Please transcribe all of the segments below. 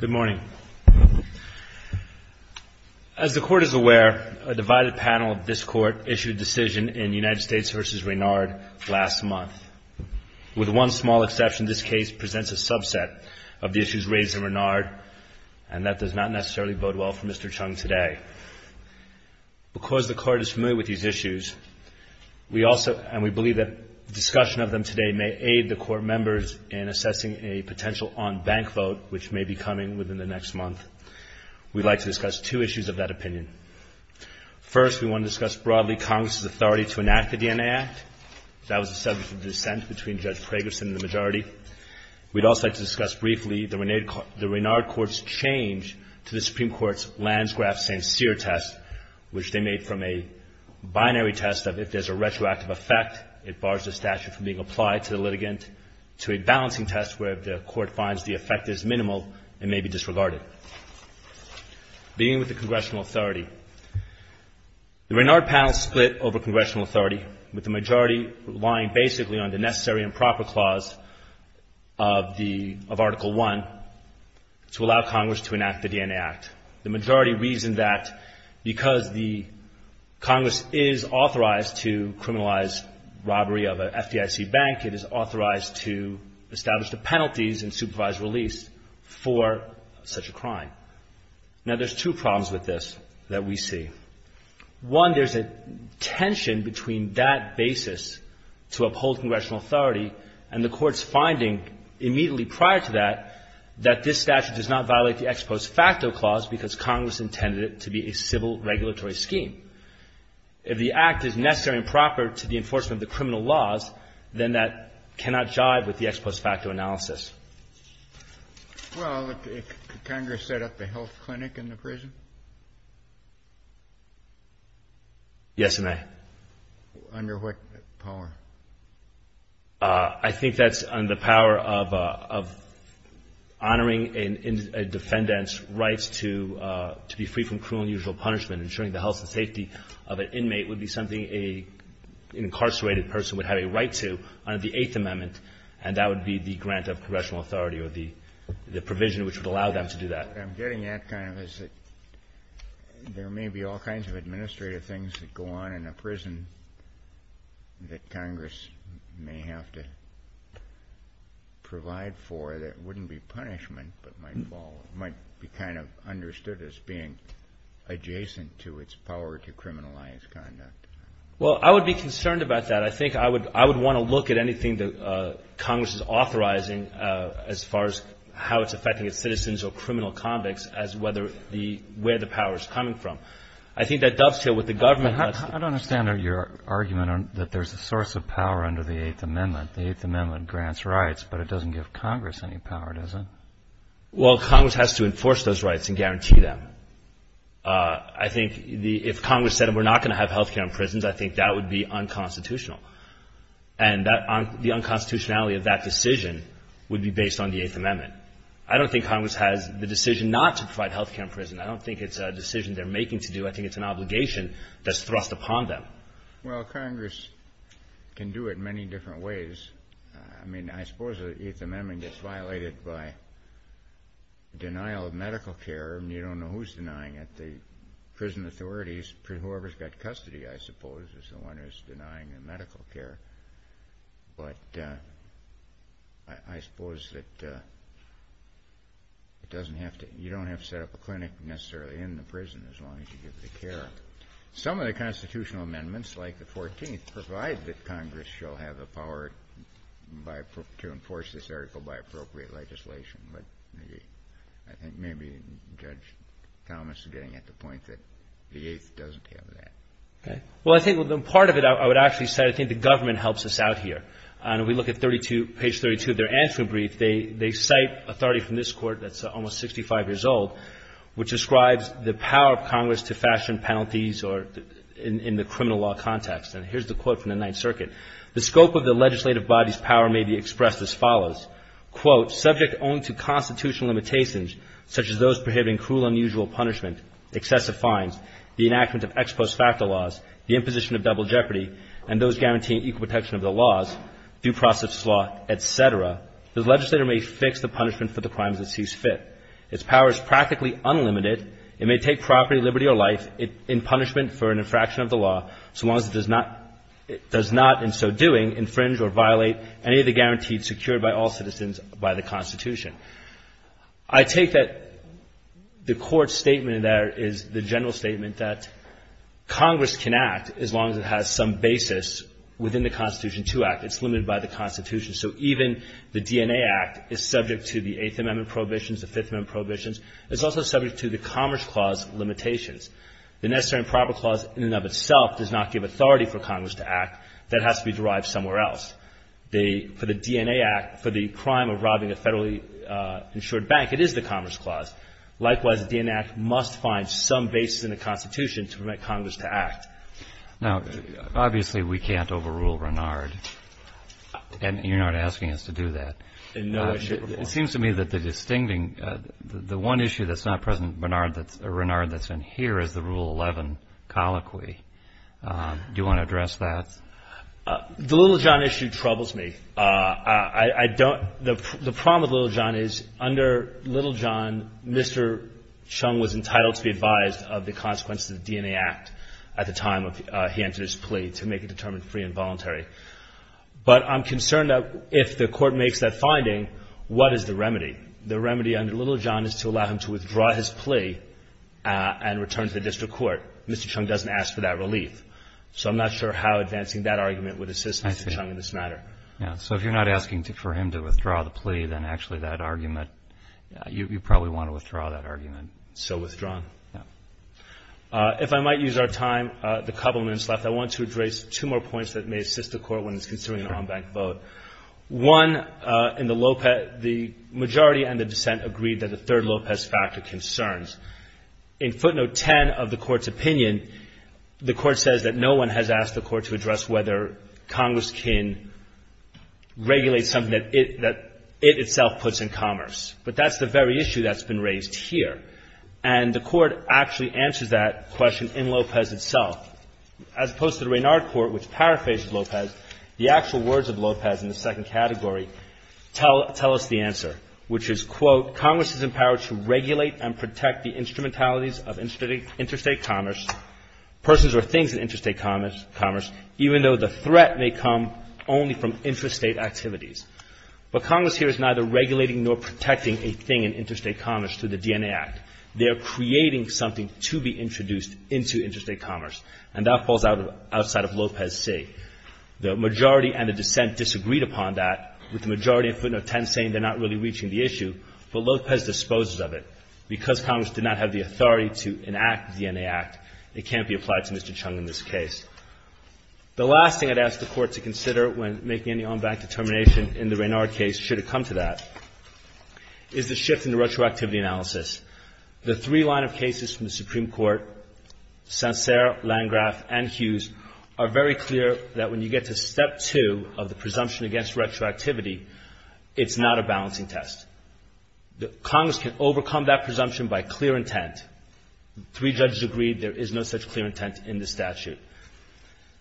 Good morning. As the Court is aware, a divided panel of this Court issued a decision in United States v. Raynard last month. With one small exception, this case presents a subset of the issues raised in Raynard, and that does not necessarily bode well for Mr. Chung today. Because the Court is familiar with these issues, and we believe that discussion of them today may aid the Court members in assessing a potential on-bank vote which may be coming within the next month, we'd like to discuss two issues of that opinion. First, we want to discuss broadly Congress's authority to enact the DNA Act. That was the subject of dissent between Judge Pragerson and the majority. We'd also like to discuss briefly the Raynard Court's change to the Supreme Court's Lansgraf-St. Cyr test, which they made from a binary test of if there's a retroactive effect, it bars the statute from being applied to the litigant, to a balancing test where the Court finds the effect is minimal and may be disregarded. Beginning with the congressional authority, the Raynard panel split over congressional Article I to allow Congress to enact the DNA Act. The majority reasoned that because the Congress is authorized to criminalize robbery of an FDIC bank, it is authorized to establish the penalties and supervise release for such a crime. Now there's two problems with this that we see. One, there's a tension between that basis to uphold congressional authority and the Court's finding immediately prior to that, that this statute does not violate the ex post facto clause because Congress intended it to be a civil regulatory scheme. If the Act is necessary and proper to the enforcement of the criminal laws, then that cannot jive with the ex post facto analysis. Kennedy. Well, Congress set up the health clinic in the prison? Yes, it may. Under what power? I think that's under the power of honoring a defendant's rights to be free from cruel and unusual punishment. Ensuring the health and safety of an inmate would be something an incarcerated person would have a right to under the Eighth Amendment, and that would be the grant of congressional authority or the provision which would allow them to do that. What I'm getting at kind of is that there may be all kinds of administrative things that go on in a prison that Congress may have to provide for that wouldn't be punishment but might be kind of understood as being adjacent to its power to criminalize conduct. Well, I would be concerned about that. I think I would want to look at anything that as where the power is coming from. I think that dovetails with the government. I don't understand your argument that there's a source of power under the Eighth Amendment. The Eighth Amendment grants rights, but it doesn't give Congress any power, does it? Well, Congress has to enforce those rights and guarantee them. I think if Congress said we're not going to have health care in prisons, I think that would be unconstitutional. And the unconstitutionality of that decision would be based on the decision not to provide health care in prison. I don't think it's a decision they're making to do. I think it's an obligation that's thrust upon them. Well, Congress can do it many different ways. I mean, I suppose the Eighth Amendment gets violated by denial of medical care, and you don't know who's denying it. The prison authorities, whoever's got custody, I suppose, is the one who's set up a clinic necessarily in the prison as long as you give the care. Some of the constitutional amendments, like the 14th, provide that Congress shall have the power to enforce this article by appropriate legislation. But I think maybe Judge Thomas is getting at the point that the Eighth doesn't have that. Okay. Well, I think part of it I would actually say I think the government helps us out here. And we look at page 32 of their answering brief. They cite authority from this Court that's almost 65 years old, which describes the power of Congress to fashion penalties in the criminal law context. And here's the quote from the Ninth Circuit. The scope of the legislative body's power may be expressed as follows. Quote, subject only to constitutional limitations, such as those prohibiting cruel unusual punishment, excessive fines, the enactment of ex post facto laws, the imposition of double jeopardy, and those guaranteeing equal protection of the laws, due process law, et cetera, the legislator may fix the punishment for the crimes it sees fit. Its power is practically unlimited. It may take property, liberty, or life in punishment for an infraction of the law so long as it does not in so doing infringe or violate any of the guarantees secured by all citizens by the Constitution. I take that the Court's statement in there is the general statement that Congress can act as long as it has some basis within the Constitution to act. It's limited by the Constitution. So even the DNA Act is subject to the Eighth Amendment prohibitions, the Fifth Amendment prohibitions. It's also subject to the Commerce Clause limitations. The Necessary and Proper Clause in and of itself does not give authority for Congress to act. That has to be derived somewhere else. The — for the DNA Act, for the crime of robbing a federally insured bank, it is the Commerce Clause. Likewise, the DNA Act must find some basis in the Constitution to permit Congress to act. Now, obviously, we can't overrule Renard. And you're not asking us to do that. And no, I should not. It seems to me that the distincting — the one issue that's not present in Renard that's in here is the Rule 11 colloquy. Do you want to address that? The Littlejohn issue troubles me. I don't — the problem with Littlejohn is under Littlejohn, Mr. Chung was entitled to be advised of the consequences of the DNA Act at the time of — he entered his plea to make it determined free and voluntary. But I'm concerned that if the Court makes that finding, what is the remedy? The remedy under Littlejohn is to allow him to withdraw his plea and return to the district court. Mr. Chung doesn't ask for that relief. So I'm not sure how advancing that argument would assist Mr. Chung in this matter. Yeah. So if you're not asking for him to withdraw the plea, then actually that argument — you probably want to withdraw that argument. So withdrawn. Yeah. If I might use our time, the couple minutes left, I want to address two more points that may assist the Court when it's considering an en banc vote. One, in the Lopez — the majority and the dissent agreed that the third Lopez factor concerns. In footnote 10 of the Court's opinion, the Court says that no one has asked the Court to address whether Congress can regulate something that it — that it itself puts in commerce. But that's the very issue that's been raised here. And the Court actually answers that question in Lopez itself. As opposed to the Raynard Court, which paraphrased Lopez, the actual words of Lopez in the second category tell — tell us the answer, which is, quote, Congress is empowered to regulate and protect the instrumentalities of interstate commerce, persons or things in interstate commerce, even though the threat may come only from interstate activities. But Congress here is neither regulating nor protecting a thing in interstate commerce through the DNA Act. They are creating something to be introduced into interstate commerce. And that falls outside of Lopez C. The majority and the dissent disagreed upon that, with the majority in footnote 10 saying they're not really reaching the issue, but Lopez disposes of it. Because Congress did not have the authority to enact the DNA Act, it can't be applied to Mr. Chung in this case. The last thing I'd ask the Court to consider when making any on-bank determination in the Raynard case, should it come to that, is the shift in the retroactivity analysis. The three line of cases from the Supreme Court, Sancerre, Landgraf, and Hughes, are very clear that when you get to step two of the presumption against retroactivity, it's not a balancing test. Congress can overcome that presumption by clear intent. Three judges agreed there is no such clear intent in the statute.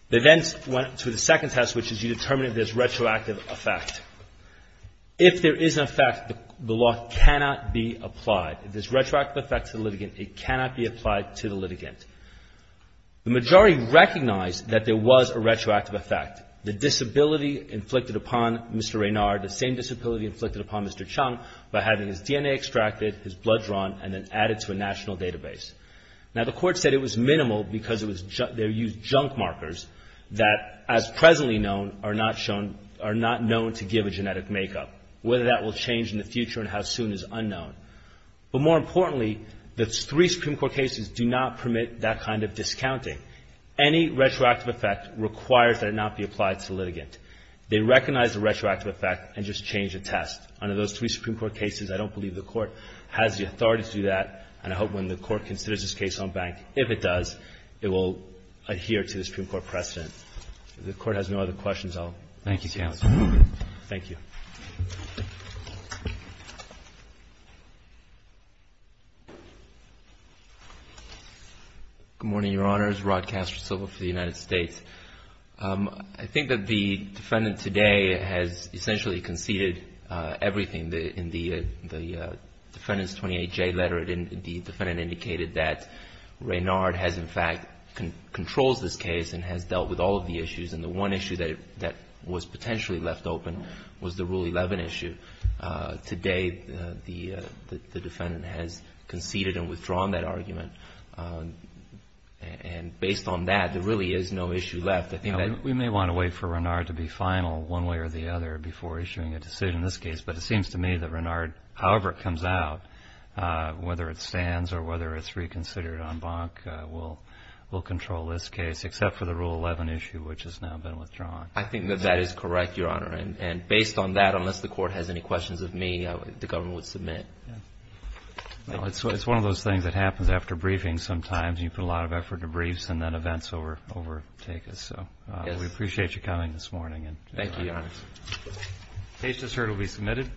They then went to the second test, which is you determine if there's retroactive effect. If there is an effect, the law cannot be applied. If there's retroactive effect to the litigant, it cannot be applied to the litigant. The majority recognized that there was a retroactive effect. The disability inflicted upon Mr. Raynard, the same disability inflicted upon Mr. Chung, by having his DNA extracted, his blood drawn, and then added to a national database. Now, the Court said it was minimal because they used junk markers that, as presently known, are not known to give a genetic makeup. Whether that will change in the future and how soon is unknown. But more importantly, the three Supreme Court cases do not permit that kind of discounting. Any retroactive effect requires that it not be applied to the litigant. They recognize the retroactive effect and just change the test. Under those three Supreme Court cases, I don't believe the Court has the authority to do that. And I hope when the Court considers this case on bank, if it does, it will adhere to the Supreme Court precedent. If the Court has no other questions, I'll let you go. Thank you, counsel. Thank you. Good morning, Your Honors. Rod Castor, civil for the United States. I think that the defendant today has essentially conceded everything. In the defendant's 28-J letter, the defendant indicated that Raynard has, in fact, controls this case and has dealt with all of the issues, and the one issue that was potentially left open was the Rule 11 issue. Today, the defendant has conceded and withdrawn that argument. And based on that, there really is no issue left. We may want to wait for Raynard to be final one way or the other before issuing a decision in this case, but it seems to me that Raynard, however it comes out, whether it stands or whether it's reconsidered on bank, will control this case, except for the Rule 11 issue, which has now been withdrawn. I think that that is correct, Your Honor. And based on that, unless the Court has any questions of me, the government would submit. Well, it's one of those things that happens after briefings sometimes. You put a lot of effort into briefs and then events overtake us. We appreciate you coming this morning. Thank you, Your Honor. The case is heard and will be submitted.